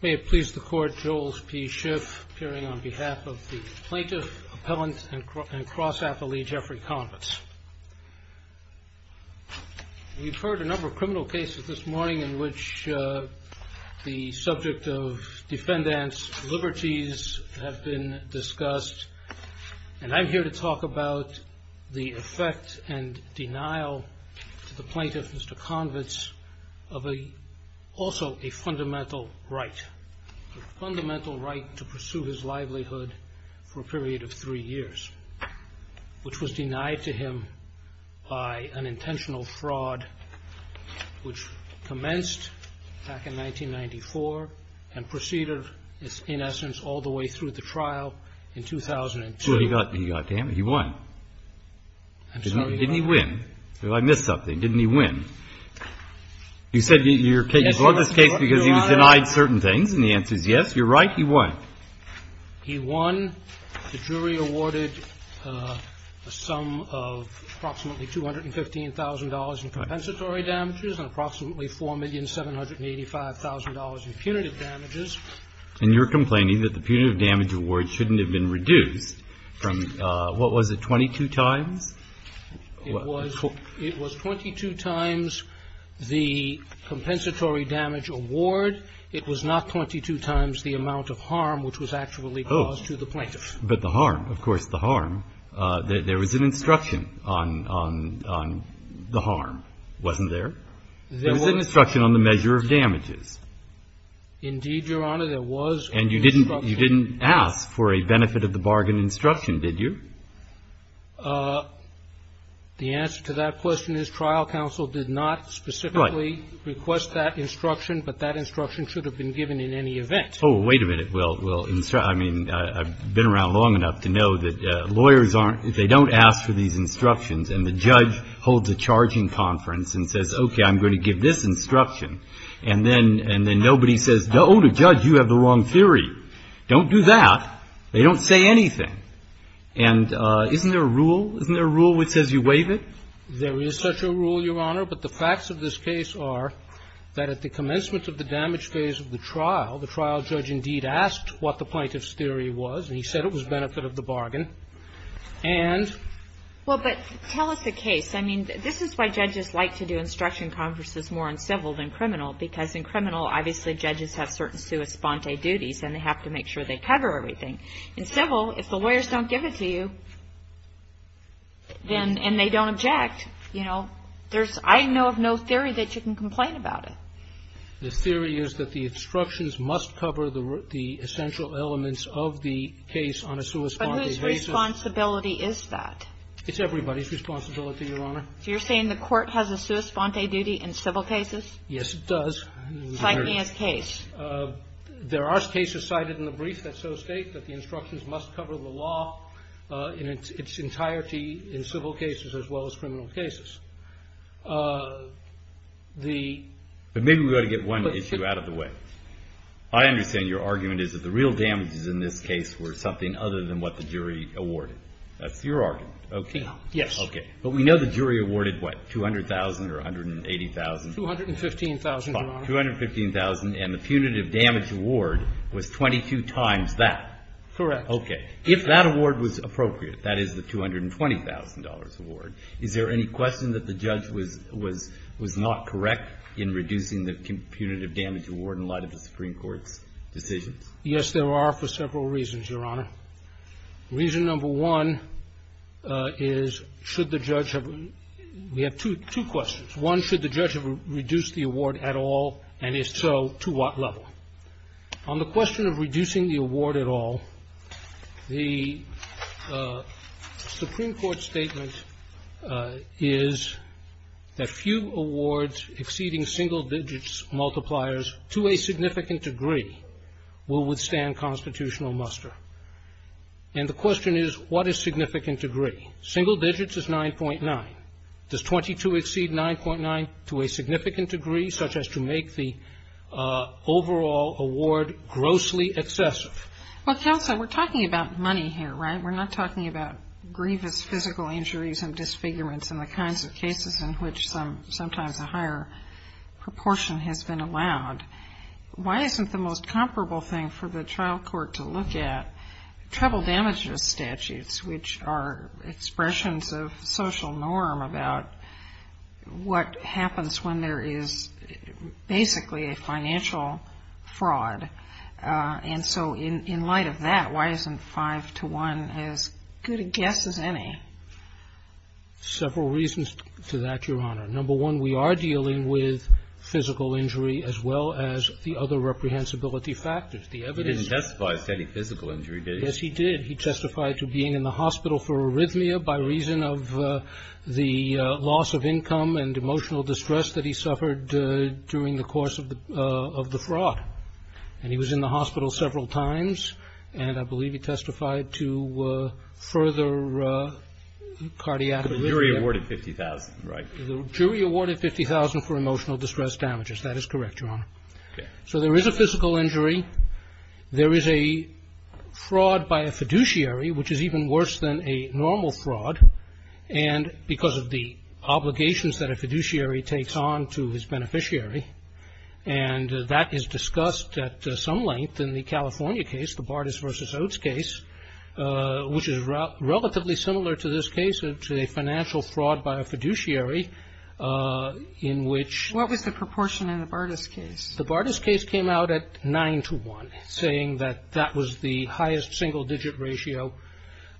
May it please the court, Joel P. Schiff appearing on behalf of the Plaintiff, Appellant, and Cross-Appellee Jeffrey Convitz. You've heard a number of criminal cases this morning in which the subject of defendants' liberties have been discussed. And I'm here to talk about the effect and denial to the Plaintiff, Mr. Convitz, of also a fundamental right. A fundamental right to pursue his livelihood for a period of three years, which was denied to him by an intentional fraud which commenced back in 1994 and proceeded, in essence, all the way through the trial in 2002. He won. I'm sorry. Didn't he win? I missed something. Didn't he win? You said you brought this case because he was denied certain things, and the answer is yes. You're right. He won. He won. The jury awarded a sum of approximately $215,000 in compensatory damages and approximately $4,785,000 in punitive damages. And you're complaining that the punitive damage award shouldn't have been reduced from what was it, 22 times? It was 22 times the compensatory damage award. It was not 22 times the amount of harm which was actually caused to the Plaintiff. But the harm, of course, the harm. There was an instruction on the harm, wasn't there? There was an instruction on the measure of damages. Indeed, Your Honor, there was an instruction. And you didn't ask for a benefit of the bargain instruction, did you? The answer to that question is trial counsel did not specifically request that instruction, but that instruction should have been given in any event. Oh, wait a minute. Well, I mean, I've been around long enough to know that lawyers aren't, they don't ask for these instructions. And the judge holds a charging conference and says, okay, I'm going to give this instruction. And then nobody says, oh, the judge, you have the wrong theory. Don't do that. They don't say anything. And isn't there a rule? Isn't there a rule which says you waive it? There is such a rule, Your Honor, but the facts of this case are that at the commencement of the damage phase of the trial, the trial judge indeed asked what the Plaintiff's theory was, and he said it was benefit of the bargain. And ---- Well, but tell us the case. I mean, this is why judges like to do instruction conferences more in civil than criminal, because in criminal, obviously, judges have certain sua sponte duties, and they have to make sure they cover everything. In civil, if the lawyers don't give it to you, then, and they don't object, you know, there's, I know of no theory that you can complain about it. The theory is that the instructions must cover the essential elements of the case on a sua sponte basis. But whose responsibility is that? It's everybody's responsibility, Your Honor. So you're saying the Court has a sua sponte duty in civil cases? Yes, it does. Cite me as case. There are cases cited in the brief that so state that the instructions must cover the law in its entirety in civil cases as well as criminal cases. The ---- But maybe we ought to get one issue out of the way. I understand your argument is that the real damages in this case were something other than what the jury awarded. That's your argument, okay? Yes. Okay. But we know the jury awarded, what, 200,000 or 180,000? 215,000, Your Honor. 215,000, and the punitive damage award was 22 times that. Correct. Okay. If that award was appropriate, that is the $220,000 award, is there any question that the judge was not correct in reducing the punitive damage award in light of the Supreme Court's decisions? Yes, there are for several reasons, Your Honor. Reason number one is should the judge have, we have two questions. One, should the judge have reduced the award at all, and if so, to what level? On the question of reducing the award at all, the Supreme Court statement is that few awards exceeding single digits multipliers to a significant degree will withstand constitutional muster. And the question is, what is significant degree? Single digits is 9.9. Does 22 exceed 9.9 to a significant degree, such as to make the overall award grossly excessive? Well, counsel, we're talking about money here, right? We're not talking about grievous physical injuries and disfigurements and the kinds of cases in which sometimes a higher proportion has been allowed. Why isn't the most comparable thing for the trial court to look at trouble damages statutes, which are expressions of social norm about what happens when there is basically a financial fraud? And so in light of that, why isn't 5-1 as good a guess as any? Several reasons to that, Your Honor. Number one, we are dealing with physical injury as well as the other reprehensibility factors. He didn't testify to any physical injury, did he? Yes, he did. He testified to being in the hospital for arrhythmia by reason of the loss of income and emotional distress that he suffered during the course of the fraud. And he was in the hospital several times, and I believe he testified to further cardiac arrhythmia. The jury awarded $50,000, right? The jury awarded $50,000 for emotional distress damages. That is correct, Your Honor. So there is a physical injury. There is a fraud by a fiduciary, which is even worse than a normal fraud, and because of the obligations that a fiduciary takes on to his beneficiary, and that is discussed at some length in the California case, the Bartas v. Oates case, which is relatively similar to this case, to a financial fraud by a fiduciary in which… What was the proportion in the Bartas case? The Bartas case came out at 9 to 1, saying that that was the highest single-digit ratio,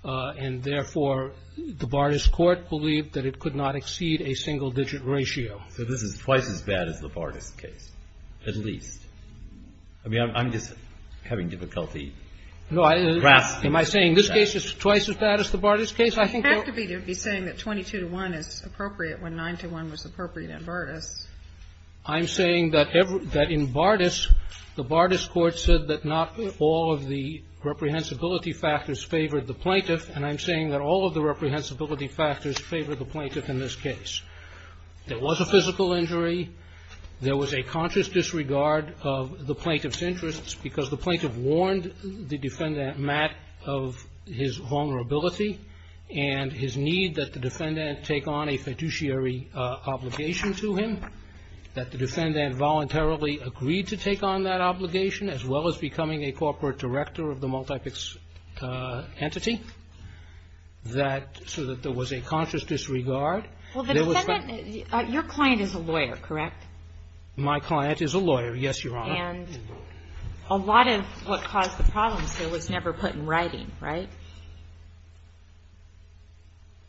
and therefore the Bartas court believed that it could not exceed a single-digit ratio. So this is twice as bad as the Bartas case, at least. I mean, I'm just having difficulty grasping this. No, am I saying this case is twice as bad as the Bartas case? You have to be saying that 22 to 1 is appropriate when 9 to 1 was appropriate in Bartas. I'm saying that in Bartas, the Bartas court said that not all of the reprehensibility factors favored the plaintiff, and I'm saying that all of the reprehensibility factors favored the plaintiff in this case. There was a physical injury. There was a conscious disregard of the plaintiff's interests, because the plaintiff warned the defendant, Matt, of his vulnerability and his need that the defendant take on a fiduciary obligation to him, that the defendant voluntarily agreed to take on that obligation, as well as becoming a corporate director of the multipix entity, so that there was a conscious disregard. Well, the defendant – your client is a lawyer, correct? My client is a lawyer, yes, Your Honor. And a lot of what caused the problems here was never put in writing, right?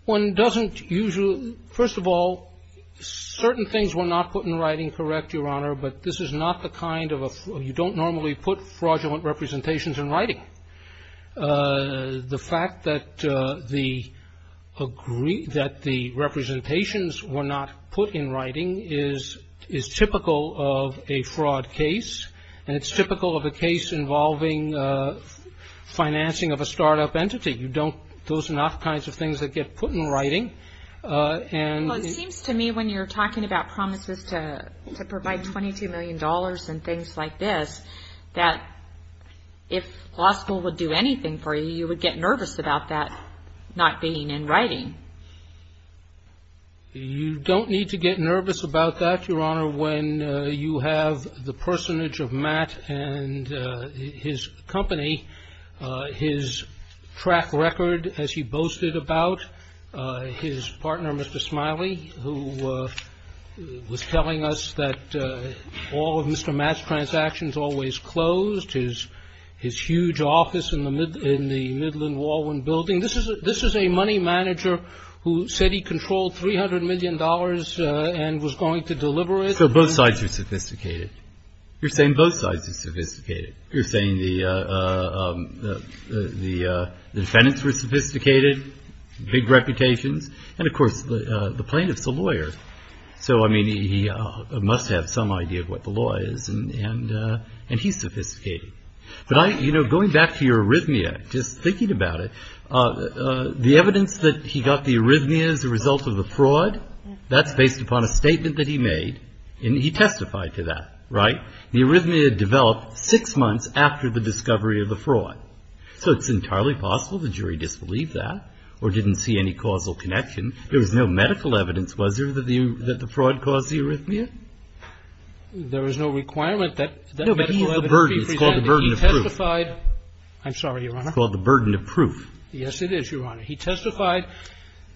One doesn't usually – first of all, certain things were not put in writing, correct, Your Honor, but this is not the kind of a – you don't normally put fraudulent representations in writing. The fact that the representations were not put in writing is typical of a fraud case, and it's typical of a case involving financing of a startup entity. You don't – those are not the kinds of things that get put in writing. Well, it seems to me when you're talking about promises to provide $22 million and things like this, that if law school would do anything for you, you would get nervous about that not being in writing. You don't need to get nervous about that, Your Honor, when you have the personage of Matt and his company, his track record, as he boasted about, his partner, Mr. Smiley, who was telling us that all of Mr. Matt's transactions always closed, his huge office in the Midland-Walwin building. This is a money manager who said he controlled $300 million and was going to deliver it. So both sides are sophisticated. You're saying both sides are sophisticated. You're saying the defendants were sophisticated, big reputations, and, of course, the plaintiff's a lawyer. So, I mean, he must have some idea of what the law is, and he's sophisticated. But, you know, going back to your arrhythmia, just thinking about it, the evidence that he got the arrhythmia as a result of the fraud, that's based upon a statement that he made, and he testified to that, right? The arrhythmia developed six months after the discovery of the fraud. So it's entirely possible the jury disbelieved that or didn't see any causal connection. There was no medical evidence, was there, that the fraud caused the arrhythmia? There was no requirement that medical evidence be presented. No, but he used the burden. It's called the burden of proof. He testified. I'm sorry, Your Honor. It's called the burden of proof. Yes, it is, Your Honor. He testified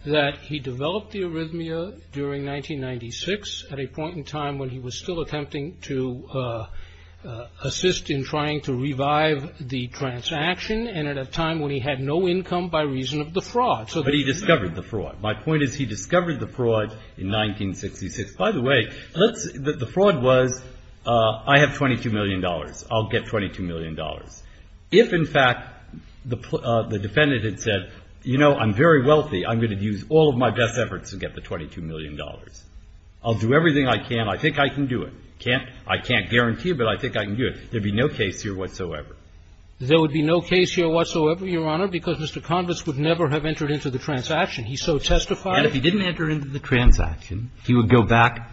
that he developed the arrhythmia during 1996 at a point in time when he was still attempting to assist in trying to revive the transaction, and at a time when he had no income by reason of the fraud. But he discovered the fraud. My point is he discovered the fraud in 1966. By the way, the fraud was, I have $22 million. I'll get $22 million. If, in fact, the defendant had said, you know, I'm very wealthy. I'm going to use all of my best efforts to get the $22 million. I'll do everything I can. I think I can do it. I can't guarantee, but I think I can do it. There would be no case here whatsoever. There would be no case here whatsoever, Your Honor, because Mr. Convis would never have entered into the transaction. He so testified. And if he didn't enter into the transaction, he would go back,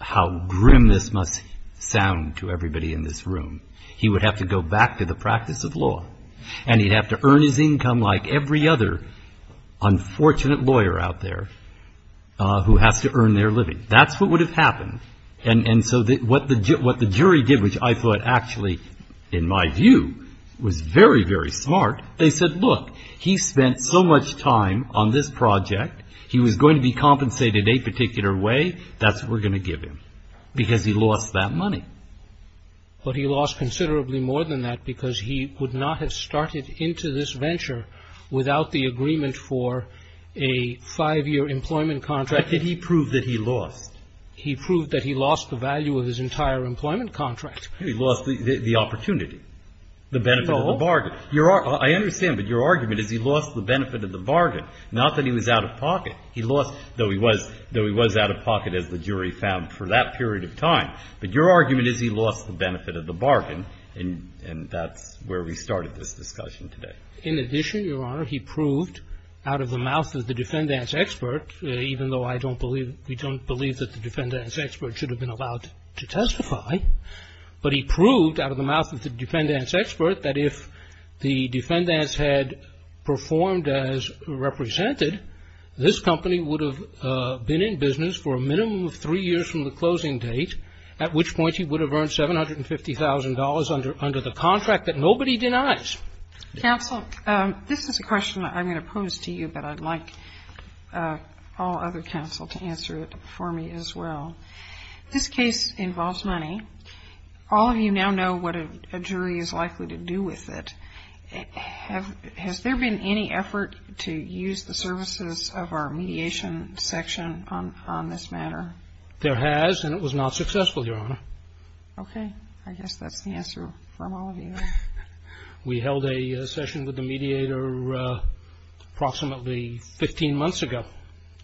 how grim this must sound to everybody in this room, he would have to go back to the practice of law. And he'd have to earn his income like every other unfortunate lawyer out there who has to earn their living. That's what would have happened. And so what the jury did, which I thought actually, in my view, was very, very smart, they said, look, he spent so much time on this project, he was going to be compensated a particular way, that's what we're going to give him, because he lost that money. But he lost considerably more than that because he would not have started into this venture without the agreement for a five-year employment contract that he proved that he lost. He proved that he lost the value of his entire employment contract. He lost the opportunity, the benefit of the bargain. I understand, but your argument is he lost the benefit of the bargain, not that he was out of pocket. He lost, though he was out of pocket, as the jury found, for that period of time. But your argument is he lost the benefit of the bargain, and that's where we started this discussion today. In addition, Your Honor, he proved out of the mouth of the defendants' expert, even though I don't believe, we don't believe that the defendants' expert should have been allowed to testify, but he proved out of the mouth of the defendants' expert that if the defendants had performed as represented, this company would have been in business for a minimum of three years from the closing date, at which point he would have earned $750,000 under the contract that nobody denies. Counsel, this is a question that I'm going to pose to you, but I'd like all other counsel to answer it for me as well. This case involves money. All of you now know what a jury is likely to do with it. Has there been any effort to use the services of our mediation section on this matter? There has, and it was not successful, Your Honor. Okay. I guess that's the answer from all of you. We held a session with the mediator approximately 15 months ago.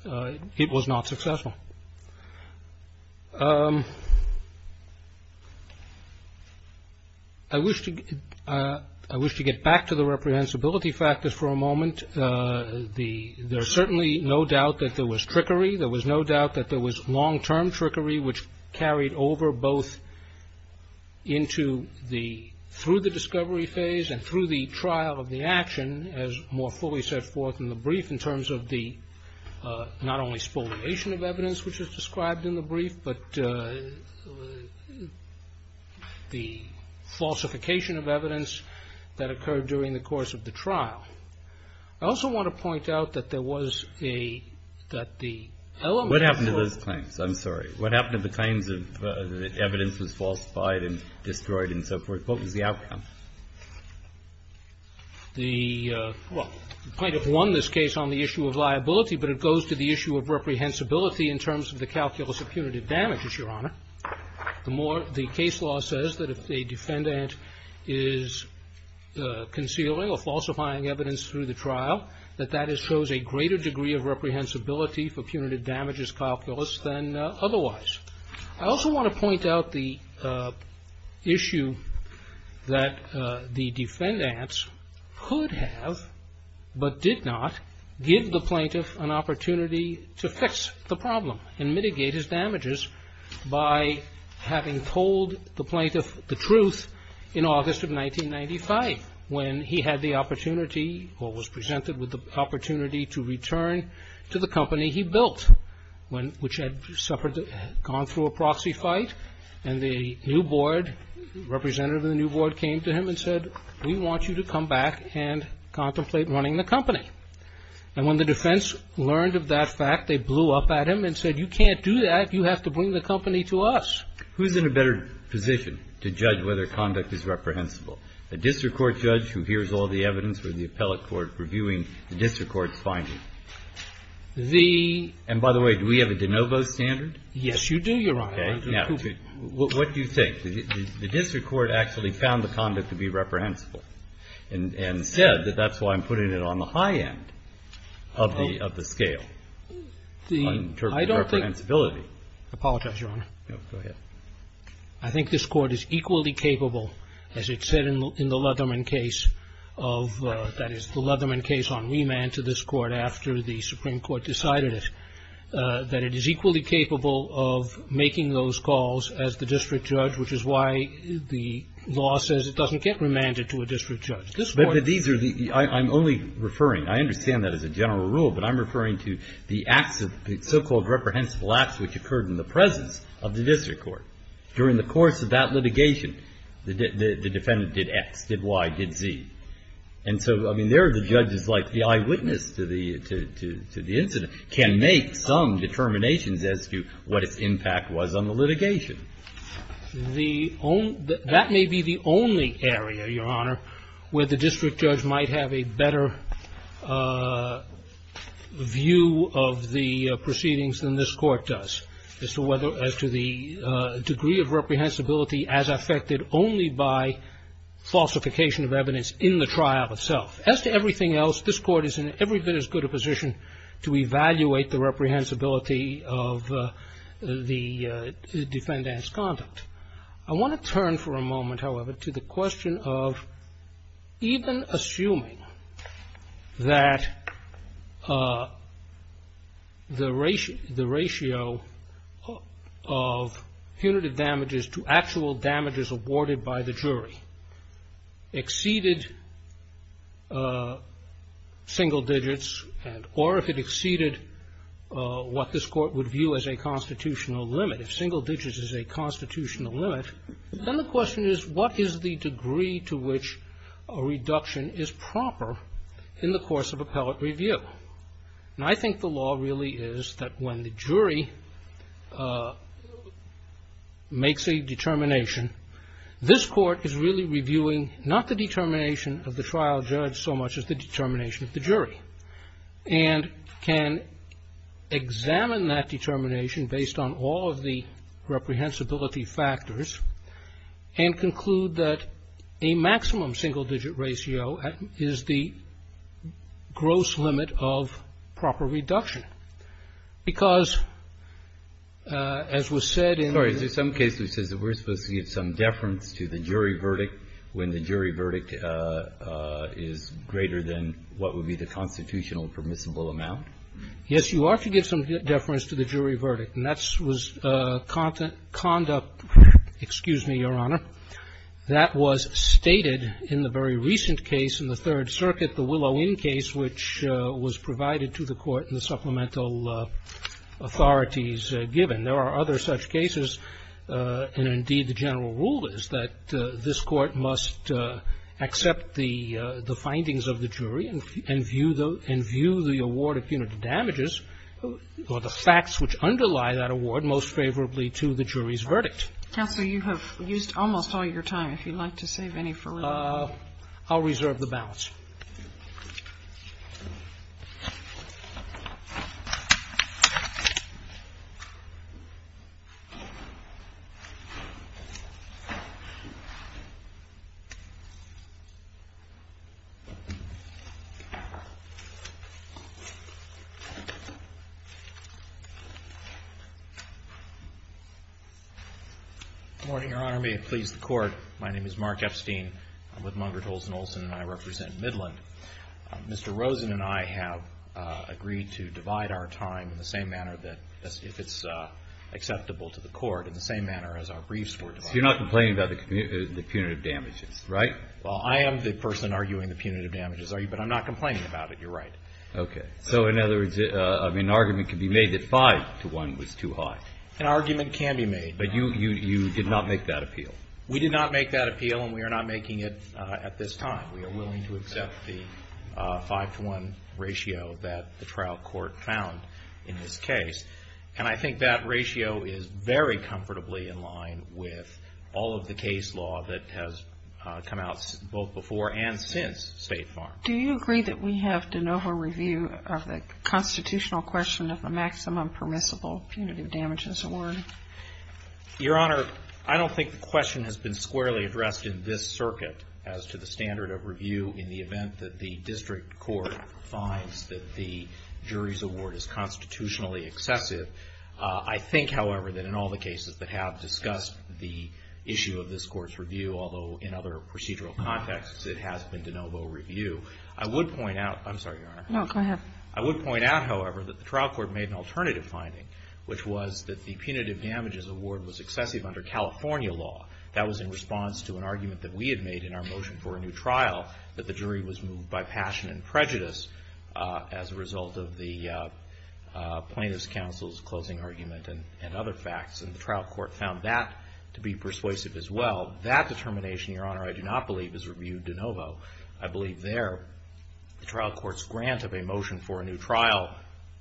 It was not successful. I wish to get back to the reprehensibility factors for a moment. There's certainly no doubt that there was trickery. There was no doubt that there was long-term trickery, which carried over both through the discovery phase and through the trial of the action, as more fully set forth in the brief, in terms of the not only spoliation of evidence, which is described in the brief, but the falsification of evidence that occurred during the course of the trial. I also want to point out that there was a – that the element of the – What happened to those claims? I'm sorry. What happened to the claims that evidence was falsified and destroyed and so forth? What was the outcome? The – well, the plaintiff won this case on the issue of liability, but it goes to the issue of reprehensibility in terms of the calculus of punitive damages, Your Honor. The case law says that if a defendant is concealing or falsifying evidence through the trial, that that shows a greater degree of reprehensibility for punitive damages calculus than otherwise. I also want to point out the issue that the defendants could have, but did not, give the plaintiff an opportunity to fix the problem and mitigate his damages by having told the plaintiff the truth in August of 1995, when he had the opportunity or was presented with the opportunity to return to the company he built, which had suffered – gone through a proxy fight, and the new board – representative of the new board came to him and said, we want you to come back and contemplate running the company. And when the defense learned of that fact, they blew up at him and said, you can't do that. You have to bring the company to us. Who's in a better position to judge whether conduct is reprehensible? A district court judge who hears all the evidence or the appellate court reviewing the district court's findings? And by the way, do we have a de novo standard? Yes, you do, Your Honor. Okay. Now, what do you think? The district court actually found the conduct to be reprehensible and said that that's why I'm putting it on the high end of the scale in terms of reprehensibility. I apologize, Your Honor. No, go ahead. I think this Court is equally capable, as it said in the Leatherman case of – the Supreme Court decided it, that it is equally capable of making those calls as the district judge, which is why the law says it doesn't get remanded to a district judge. This Court – But these are the – I'm only referring – I understand that as a general rule, but I'm referring to the acts of – the so-called reprehensible acts which occurred in the presence of the district court. During the course of that litigation, the defendant did X, did Y, did Z. And so, I mean, there the judge is like the eyewitness to the incident, can make some determinations as to what its impact was on the litigation. The – that may be the only area, Your Honor, where the district judge might have a better view of the proceedings than this Court does as to whether – as to the degree of reprehensibility as affected only by falsification of evidence in the trial itself. As to everything else, this Court is in every bit as good a position to evaluate the reprehensibility of the defendant's conduct. I want to turn for a moment, however, to the question of even assuming that the ratio of punitive damages to actual damages awarded by the jury exceeded single digits or if it exceeded what this Court would view as a constitutional limit. If single digits is a constitutional limit, then the question is what is the degree to which a reduction is proper in the course of appellate review? And I think the law really is that when the jury makes a determination, this Court is really reviewing not the determination of the trial judge so much as the determination of the jury. And can examine that determination based on all of the reprehensibility factors and conclude that a maximum single-digit ratio is the gross limit of proper reduction. Because as was said in the – Sorry. Is there some case that says that we're supposed to give some deference to the jury verdict when the jury verdict is greater than what would be the constitutional permissible amount? Yes, you are to give some deference to the jury verdict. And that was conduct – excuse me, Your Honor. That was stated in the very recent case in the Third Circuit, the Willow Inn case, which was provided to the Court in the supplemental authorities given. And there are other such cases. And indeed, the general rule is that this Court must accept the findings of the jury and view the award of punitive damages or the facts which underlie that award most favorably to the jury's verdict. Counsel, you have used almost all your time. If you'd like to save any for later. I'll reserve the balance. Good morning, Your Honor. May it please the Court. My name is Mark Epstein. I'm with Mungert, Olson & Olson, and I represent Midland. Mr. Rosen and I have agreed to divide our time in the same manner that – if it's acceptable to the Court, in the same manner as our briefs were divided. So you're not complaining about the punitive damages, right? Well, I am the person arguing the punitive damages, but I'm not complaining about it. You're right. Okay. So in other words, an argument can be made that five to one was too high. An argument can be made. But you did not make that appeal. We did not make that appeal, and we are not making it at this time. We are willing to accept the five to one ratio that the trial court found in this case. And I think that ratio is very comfortably in line with all of the case law that has come out both before and since State Farm. Do you agree that we have de novo review of the constitutional question of the maximum permissible punitive damages award? Your Honor, I don't think the question has been squarely addressed in this circuit as to the standard of review in the event that the district court finds that the jury's award is constitutionally excessive. I think, however, that in all the cases that have discussed the issue of this Court's review, although in other procedural contexts it has been de novo review, I would point out – I'm sorry, Your Honor. No, go ahead. I would point out, however, that the trial court made an alternative finding, which was that the punitive damages award was excessive under California law. That was in response to an argument that we had made in our motion for a new trial that the jury was moved by passion and prejudice as a result of the plaintiff's counsel's closing argument and other facts. And the trial court found that to be persuasive as well. That determination, Your Honor, I do not believe is reviewed de novo. I believe there the trial court's grant of a motion for a new trial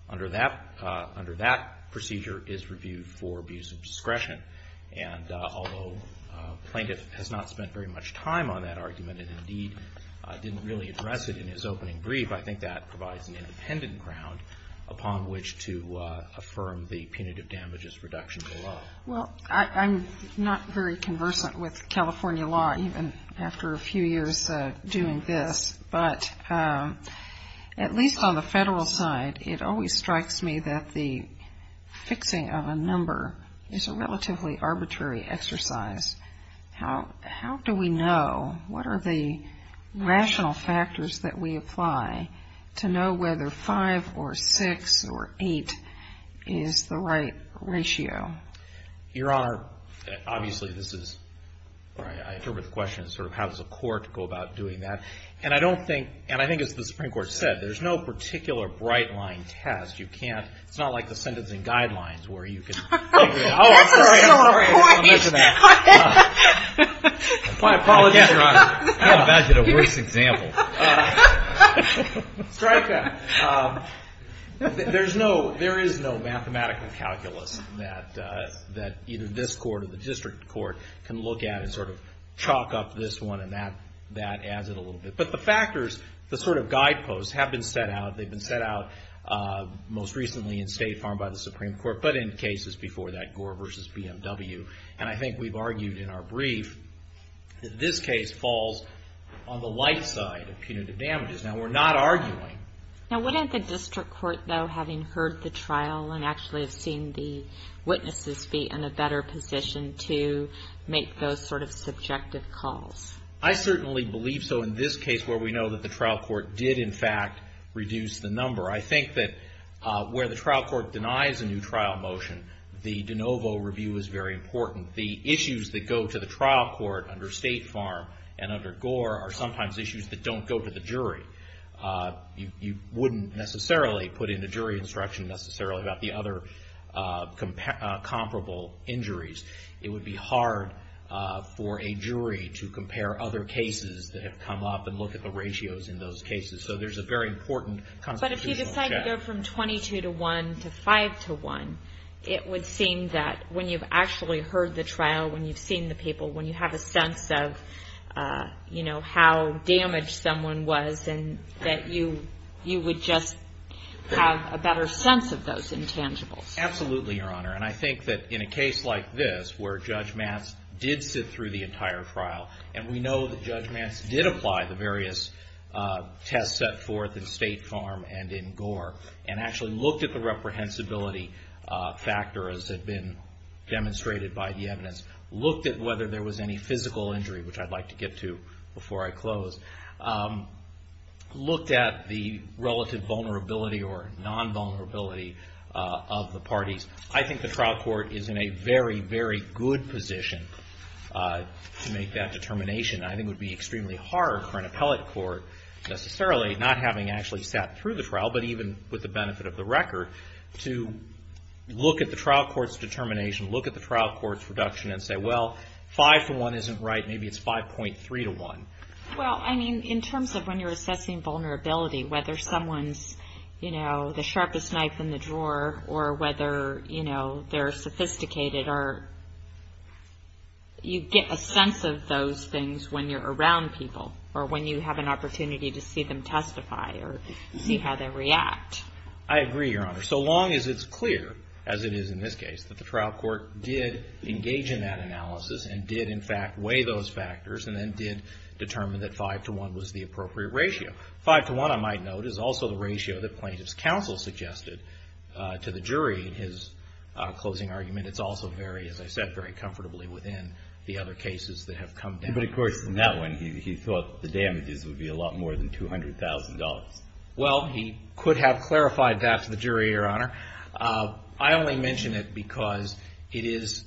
under that procedure is reviewed for abuse of discretion. And although plaintiff has not spent very much time on that argument and indeed didn't really address it in his opening brief, I think that provides an independent ground upon which to affirm the punitive damages reduction below. Well, I'm not very conversant with California law. Even after a few years doing this. But at least on the federal side, it always strikes me that the fixing of a number is a relatively arbitrary exercise. How do we know? What are the rational factors that we apply to know whether 5 or 6 or 8 is the right ratio? Your Honor, obviously this is, I interpret the question as sort of how does a court go about doing that? And I don't think, and I think as the Supreme Court said, there's no particular bright line test. You can't, it's not like the sentencing guidelines where you can. That's a story. I'll mention that. My apologies, Your Honor. I imagine a worse example. Strike that. There's no, there is no mathematical calculus that either this court or the district court can look at and sort of chalk up this one and that adds it a little bit. But the factors, the sort of guideposts have been set out. They've been set out most recently in State Farm by the Supreme Court, but in cases before that, Gore v. BMW. And I think we've argued in our brief that this case falls on the light side of punitive damages. Now, we're not arguing. Now, wouldn't the district court, though, having heard the trial and actually have seen the witnesses be in a better position to make those sort of subjective calls? I certainly believe so in this case where we know that the trial court did in fact reduce the number. I think that where the trial court denies a new trial motion, the de novo review is very important. The issues that go to the trial court under State Farm and under Gore are sometimes issues that don't go to the jury. You wouldn't necessarily put in a jury instruction necessarily about the other comparable injuries. It would be hard for a jury to compare other cases that have come up and look at the ratios in those cases. So there's a very important constitutional challenge. But if you decide to go from 22 to 1 to 5 to 1, it would seem that when you've actually heard the trial, when you've seen the people, when you have a sense of how damaged someone was, that you would just have a better sense of those intangibles. Absolutely, Your Honor. And I think that in a case like this where Judge Matz did sit through the entire trial, and we know that Judge Matz did apply the various tests set forth in State Farm and in Gore, and actually looked at the reprehensibility factor as had been demonstrated by the evidence, looked at whether there was any physical injury, which I'd like to get to before I close, looked at the relative vulnerability or non-vulnerability of the parties. I think the trial court is in a very, very good position to make that determination. I think it would be extremely hard for an appellate court necessarily, not having actually sat through the trial, but even with the benefit of the record, to look at the trial court's determination, look at the trial court's deduction, and say, well, five for one isn't right, maybe it's 5.3 to one. Well, I mean, in terms of when you're assessing vulnerability, whether someone's, you know, the sharpest knife in the drawer, or whether, you know, they're sophisticated, or you get a sense of those things when you're around people, or when you have an opportunity to see them testify, or see how they react. I agree, Your Honor. So long as it's clear, as it is in this case, that the trial court did engage in that analysis, and did in fact weigh those factors, and then did determine that five to one was the appropriate ratio. Five to one, I might note, is also the ratio that plaintiff's counsel suggested to the jury in his closing argument. It's also very, as I said, very comfortably within the other cases that have come down. But of course, in that one, he thought the damages would be a lot more than $200,000. Well, he could have clarified that to the jury, Your Honor. I only mention it because it is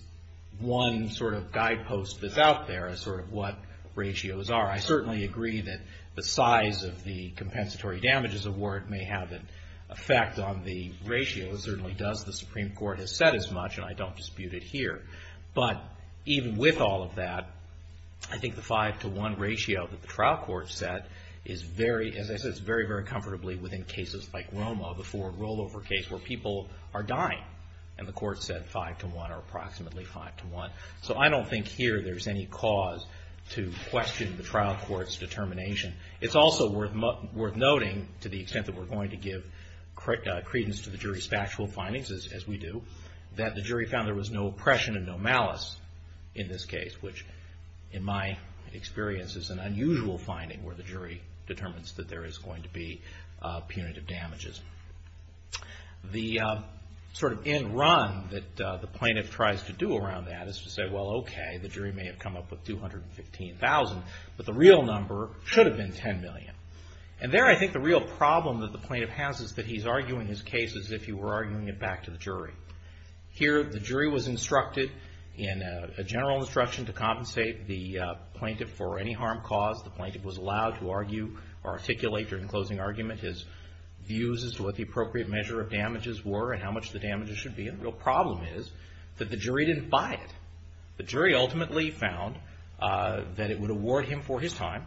one sort of guidepost that's out there, sort of what ratios are. I certainly agree that the size of the compensatory damages award may have an effect on the ratio. It certainly does. The Supreme Court has said as much, and I don't dispute it here. But even with all of that, I think the five to one ratio that the trial court set is very, as I said, it's very, very comfortably within cases like Roma, the forward rollover case, where people are dying. And the court said five to one, or approximately five to one. So I don't think here there's any cause to question the trial court's determination. It's also worth noting, to the extent that we're going to give credence to the jury's factual findings, as we do, that the jury found there was no oppression and no malice in this case, which in my experience is an unusual finding, where the jury determines that there is going to be punitive damages. The sort of end run that the plaintiff tries to do around that is to say, well, okay, the jury may have come up with 215,000, but the real number should have been 10 million. And there I think the real problem that the plaintiff has is that he's arguing his case as if he were arguing it back to the jury. Here the jury was instructed in a general instruction to compensate the plaintiff for any harm caused. The plaintiff was allowed to argue or articulate during the closing argument his views as to what the appropriate measure of damages were and how much the damages should be. And the real problem is that the jury didn't buy it. The jury ultimately found that it would award him for his time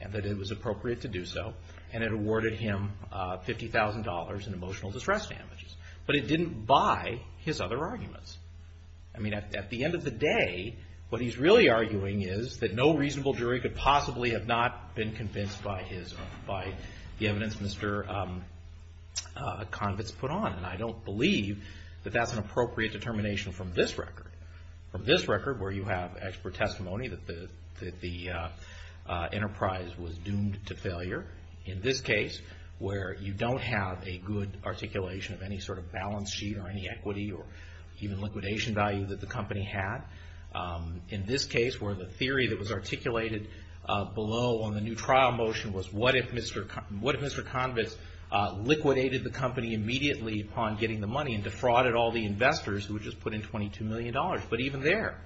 and that it was appropriate to do so, and it awarded him $50,000 in emotional distress damages. But it didn't buy his other arguments. I mean, at the end of the day, what he's really arguing is that no reasonable argument could possibly have not been convinced by the evidence Mr. Convitz put on. And I don't believe that that's an appropriate determination from this record. From this record, where you have expert testimony that the enterprise was doomed to failure. In this case, where you don't have a good articulation of any sort of balance sheet or any equity or even liquidation value that the company had. In this case, where the theory that was articulated below on the new trial motion was, what if Mr. Convitz liquidated the company immediately upon getting the money and defrauded all the investors who had just put in $22 million? But even there,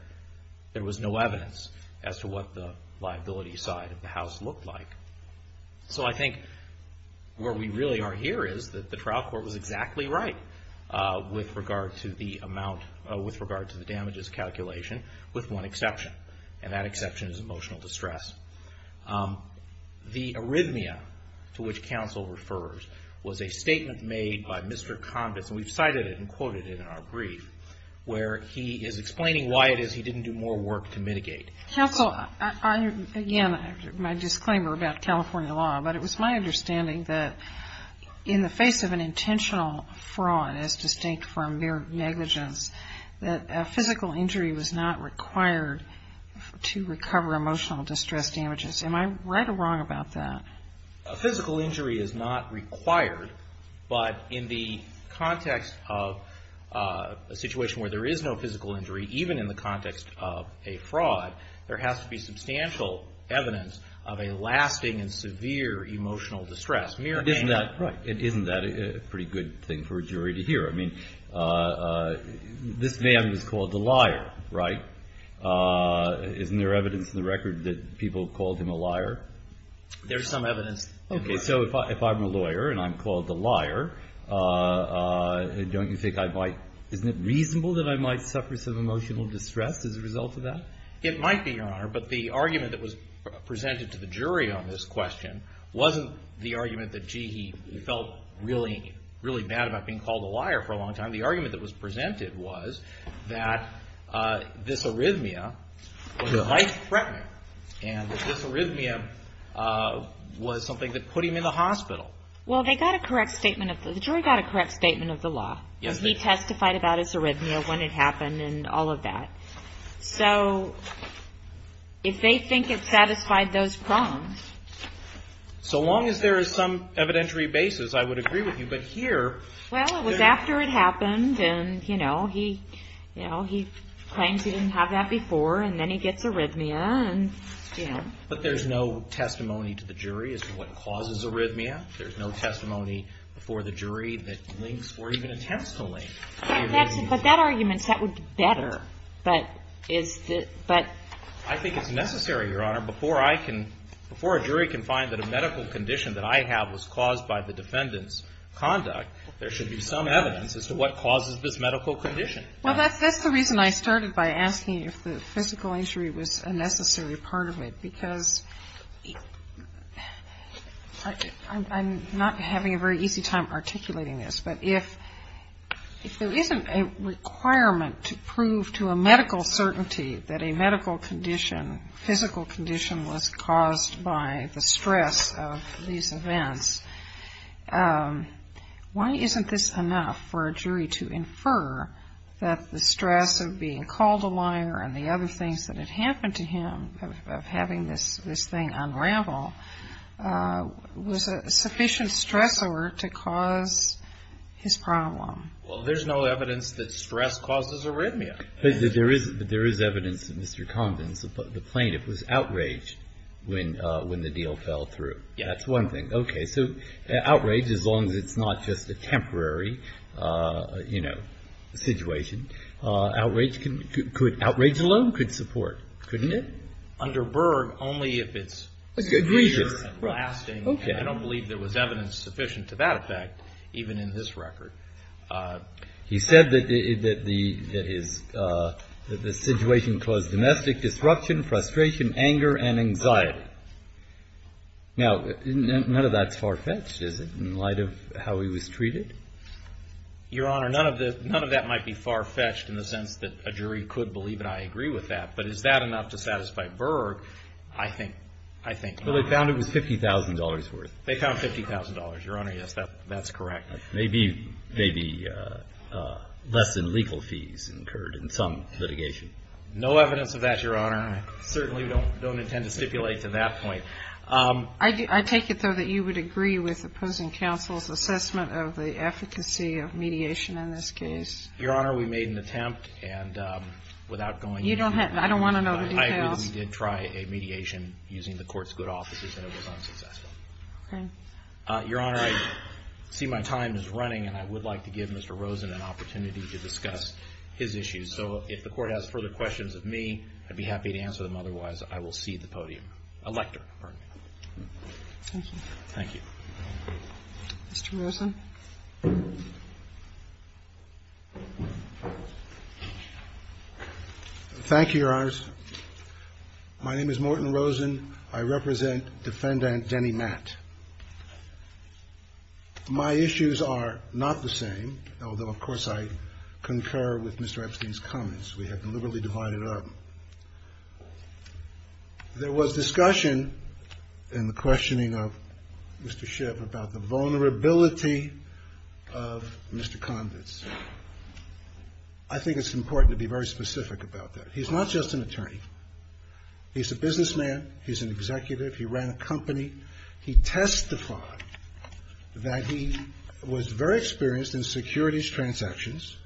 there was no evidence as to what the liability side of the House looked like. So I think where we really are here is that the trial court was exactly right with regard to the amount, with regard to the damages calculation, with one exception. And that exception is emotional distress. The arrhythmia to which counsel refers was a statement made by Mr. Convitz, and we've cited it and quoted it in our brief, where he is explaining why it is he didn't do more work to mitigate. Counsel, again, my disclaimer about California law, but it was my understanding that in the face of an intentional fraud, as distinct from mere negligence, that a physical injury was not required to recover emotional distress damages. Am I right or wrong about that? A physical injury is not required, but in the context of a situation where there is no physical injury, even in the context of a fraud, there has to be It isn't that a pretty good thing for a jury to hear. I mean, this man was called a liar, right? Isn't there evidence in the record that people called him a liar? There's some evidence. Okay. So if I'm a lawyer and I'm called a liar, don't you think I might, isn't it reasonable that I might suffer some emotional distress as a result of that? It might be, Your Honor, but the argument that was presented to the jury on this question wasn't the argument that, gee, he felt really, really bad about being called a liar for a long time. The argument that was presented was that this arrhythmia was a life-threatening and that this arrhythmia was something that put him in the hospital. Well, the jury got a correct statement of the law. He testified about his arrhythmia, when it happened, and all of that. So if they think it satisfied those prongs... So long as there is some evidentiary basis, I would agree with you. But here... Well, it was after it happened, and, you know, he claims he didn't have that before, and then he gets arrhythmia, and, you know... But there's no testimony to the jury as to what causes arrhythmia. There's no testimony before the jury that links or even attempts to link the arrhythmia. But that argument, that would be better. I think it's necessary, Your Honor. Before a jury can find that a medical condition that I have was caused by the defendant's conduct, there should be some evidence as to what causes this medical condition. Well, that's the reason I started by asking if the physical injury was a necessary part of it, because I'm not having a very easy time articulating this. But if there isn't a requirement to prove to a medical certainty that a medical condition, physical condition, was caused by the stress of these events, why isn't this enough for a jury to infer that the stress of being called a liar and the other things that had happened to him of having this thing unravel was a sufficient stressor to cause his problem? Well, there's no evidence that stress causes arrhythmia. But there is evidence that Mr. Condon, the plaintiff, was outraged when the deal fell through. Yes. That's one thing. Okay. So outrage, as long as it's not just a temporary, you know, situation, outrage alone could support, couldn't it? Under Berg, only if it's a degree of lasting. I don't believe there was evidence sufficient to that effect, even in this record. He said that the situation caused domestic disruption, frustration, anger, and anxiety. Now, none of that's far-fetched, is it, in light of how he was treated? Your Honor, none of that might be far-fetched in the sense that a jury could believe, and I agree with that. But is that enough to satisfy Berg? I think not. Well, they found it was $50,000 worth. They found $50,000. Your Honor, yes, that's correct. Maybe less than legal fees incurred in some litigation. No evidence of that, Your Honor. I certainly don't intend to stipulate to that point. I take it, though, that you would agree with opposing counsel's assessment of the efficacy of mediation in this case? Your Honor, we made an attempt, and without going into the details, I don't want to know the details. I agree that we did try a mediation using the Court's good offices, and it was unsuccessful. Okay. Your Honor, I see my time is running, and I would like to give Mr. Rosen an opportunity to discuss his issues. So if the Court has further questions of me, I'd be happy to answer them. Otherwise, I will cede the podium. Elector, pardon me. Thank you. Thank you. Mr. Rosen. Thank you, Your Honor. My name is Morton Rosen. I represent Defendant Denny Matt. My issues are not the same, although, of course, I concur with Mr. Epstein's comments. We have been liberally divided up. There was discussion in the questioning of Mr. Schiff about the vulnerability of Mr. Conditz. I think it's important to be very specific about that. He's not just an attorney. He's a businessman. He's an executive. He ran a company. He testified that he was very experienced in securities transactions,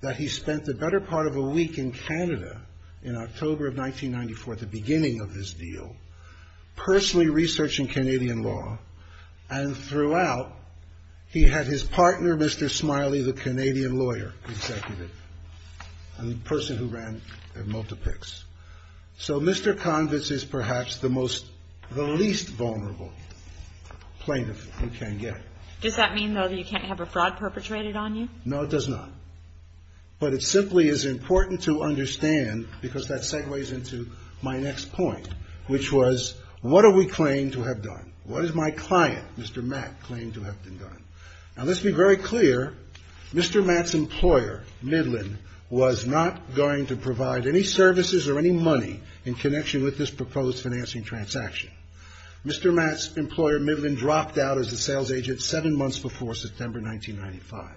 that he spent the better part of a week in Canada in October of 1994, at the beginning of this deal, personally researching Canadian law. And throughout, he had his partner, Mr. Smiley, the Canadian lawyer, executive, the person who ran the multipix. So Mr. Conditz is perhaps the least vulnerable plaintiff who can get it. Does that mean, though, that you can't have a fraud perpetrated on you? No, it does not. But it simply is important to understand, because that segues into my next point, which was, what do we claim to have done? What does my client, Mr. Matt, claim to have done? Now, let's be very clear. Mr. Matt's employer, Midland, was not going to provide any services or any money in connection with this proposed financing transaction. Mr. Matt's employer, Midland, dropped out as a sales agent seven months before September 1995.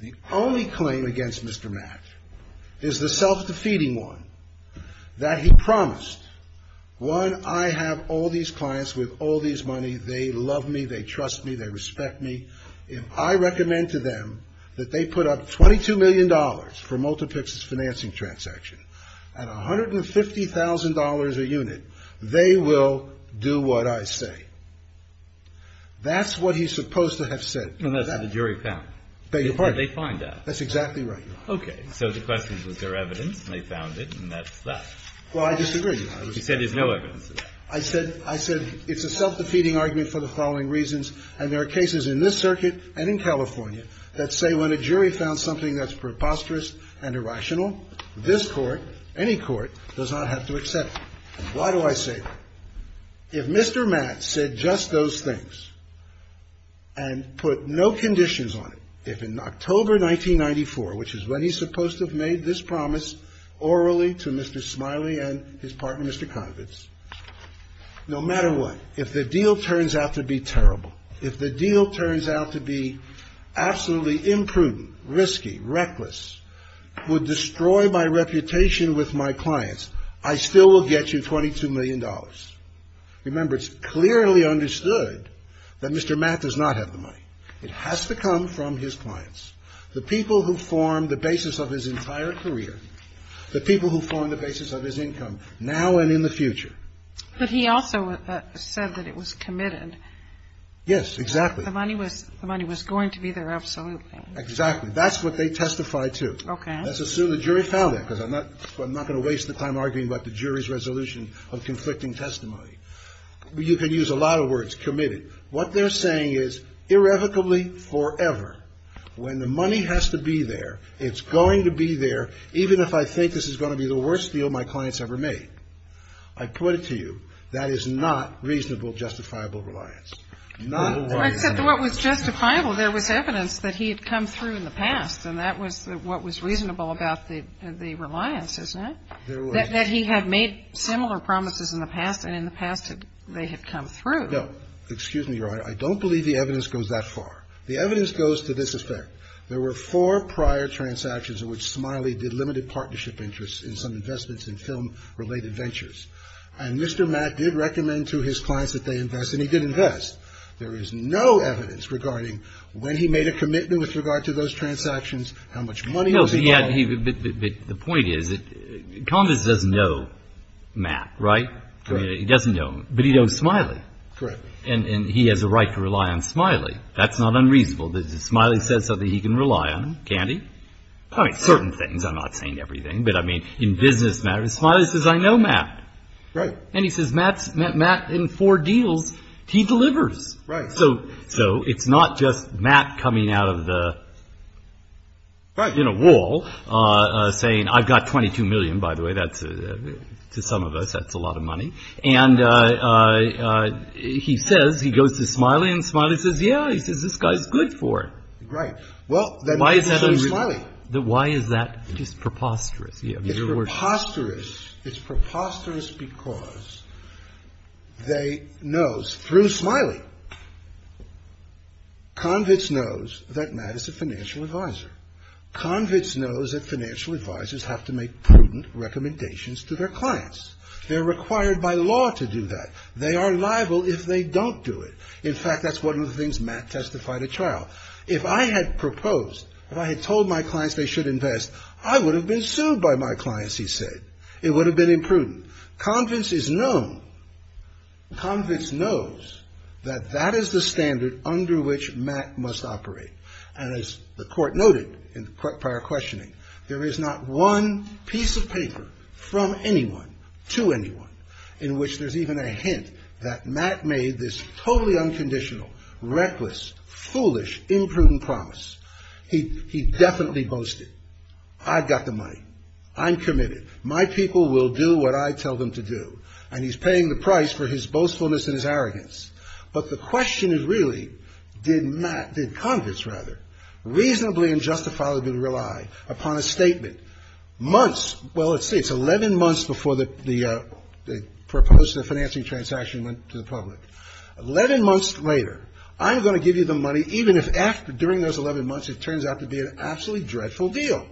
The only claim against Mr. Matt is the self-defeating one, that he promised, one, I have all these clients with all these money. They love me. They trust me. They respect me. If I recommend to them that they put up $22 million for multipix's financing transaction at $150,000 a unit, they will do what I say. That's what he's supposed to have said. And that's what the jury found. They find out. That's exactly right. Okay. So the question was there evidence, and they found it, and that's that. Well, I disagree. You said there's no evidence. I said it's a self-defeating argument for the following reasons, and there are cases in this circuit and in California that say when a jury found something that's preposterous and irrational, this Court, any Court, does not have to accept it. Why do I say that? If Mr. Matt said just those things and put no conditions on it, if in October 1994, which is when he's supposed to have made this promise orally to Mr. Smiley and his partner, Mr. Conovance, no matter what, if the deal turns out to be terrible, if the deal turns out to be absolutely imprudent, risky, reckless, would destroy my reputation with my clients, I still will get you $22 million. Remember, it's clearly understood that Mr. Matt does not have the money. It has to come from his clients, the people who formed the basis of his entire career, the people who formed the basis of his income now and in the future. But he also said that it was committed. Yes, exactly. The money was going to be their absolute thing. Exactly. And that's what they testified to. Okay. Let's assume the jury found it, because I'm not going to waste the time arguing about the jury's resolution of conflicting testimony. You could use a lot of words, committed. What they're saying is irrevocably, forever, when the money has to be there, it's going to be there, even if I think this is going to be the worst deal my client's ever made. I put it to you, that is not reasonable, justifiable reliance. Except that what was justifiable, there was evidence that he had come through in the past, and that was what was reasonable about the reliance, isn't it? That he had made similar promises in the past, and in the past they had come through. No. Excuse me, Your Honor. I don't believe the evidence goes that far. The evidence goes to this effect. There were four prior transactions in which Smiley did limited partnership interests in some investments in film-related ventures. And Mr. Matt did recommend to his clients that they invest, and he did invest. There is no evidence regarding when he made a commitment with regard to those transactions, how much money was involved. No, but the point is, Convis doesn't know Matt, right? Correct. He doesn't know him. But he knows Smiley. Correct. And he has a right to rely on Smiley. That's not unreasonable. But if Smiley says something, he can rely on him, can't he? I mean, certain things, I'm not saying everything. But, I mean, in business matters, Smiley says, I know Matt. Right. And he says, Matt's met Matt in four deals. He delivers. Right. So it's not just Matt coming out of the, you know, wall, saying, I've got $22 million, by the way. That's, to some of us, that's a lot of money. And he says, he goes to Smiley, and Smiley says, yeah, this guy's good for it. Right. Well, then why is he saying Smiley? Why is that just preposterous? It's preposterous. It's preposterous because they know, through Smiley, Convitz knows that Matt is a financial advisor. Convitz knows that financial advisors have to make prudent recommendations to their clients. They're required by law to do that. They are liable if they don't do it. Now, if I had proposed, if I had told my clients they should invest, I would have been sued by my clients, he said. It would have been imprudent. Convitz is known, Convitz knows, that that is the standard under which Matt must operate. And as the court noted in the prior questioning, there is not one piece of paper from anyone, to anyone, in which there's even a hint that Matt made this totally unconditional, reckless, foolish, imprudent promise. He definitely boasted. I've got the money. I'm committed. My people will do what I tell them to do. And he's paying the price for his boastfulness and his arrogance. But the question is really, did Convitz reasonably and justifiably rely upon a statement? Months, well, let's see. It's 11 months before the proposed financing transaction went to the public. Eleven months later, I'm going to give you the money, even if during those 11 months it turns out to be an absolutely dreadful deal.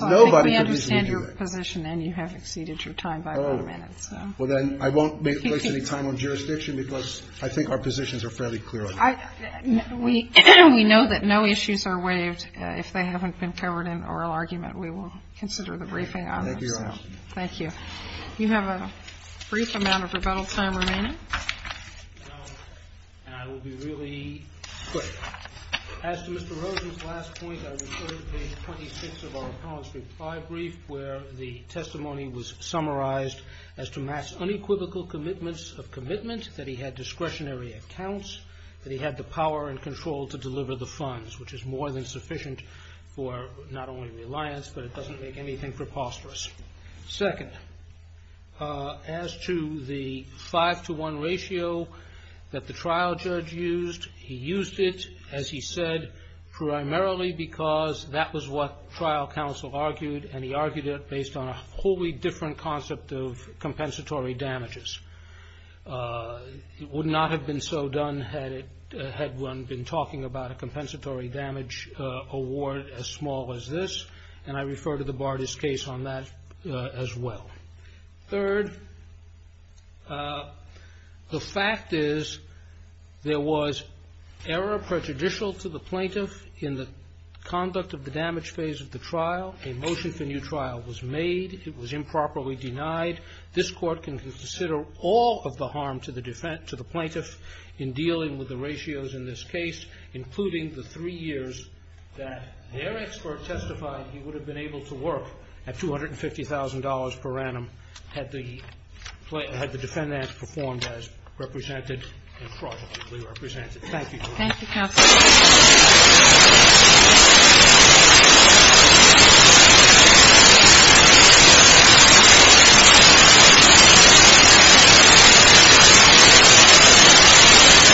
Nobody can reasonably do that. Kagan. Counsel, I think we understand your position, and you have exceeded your time by a lot of minutes. Well, then I won't waste any time on jurisdiction, because I think our positions are fairly clear on that. We know that no issues are waived. And if they haven't been covered in oral argument, we will consider the briefing on them. Thank you, Your Honor. Thank you. You have a brief amount of rebuttal time remaining. And I will be really quick. As to Mr. Rosen's last point, I referred to page 26 of our appellant's reply brief, where the testimony was summarized as to Matt's unequivocal commitments of commitment that he had discretionary accounts, that he had the power and control to deliver the funds, which is more than sufficient for not only reliance, but it doesn't make anything preposterous. Second, as to the five-to-one ratio that the trial judge used, he used it, as he said, primarily because that was what trial counsel argued, and he argued it based on a wholly different concept of compensatory damages. It would not have been so done had one been talking about a compensatory damage award as small as this, and I refer to the Bardis case on that as well. Third, the fact is there was error prejudicial to the plaintiff in the conduct of the damage phase of the trial. A motion for new trial was made. It was improperly denied. This Court can consider all of the harm to the plaintiff in dealing with the ratios in this case, including the three years that their expert testified he would have been able to work at $250,000 per annum had the defendant performed as represented and fraudulently represented. Thank you, counsel. Thank you.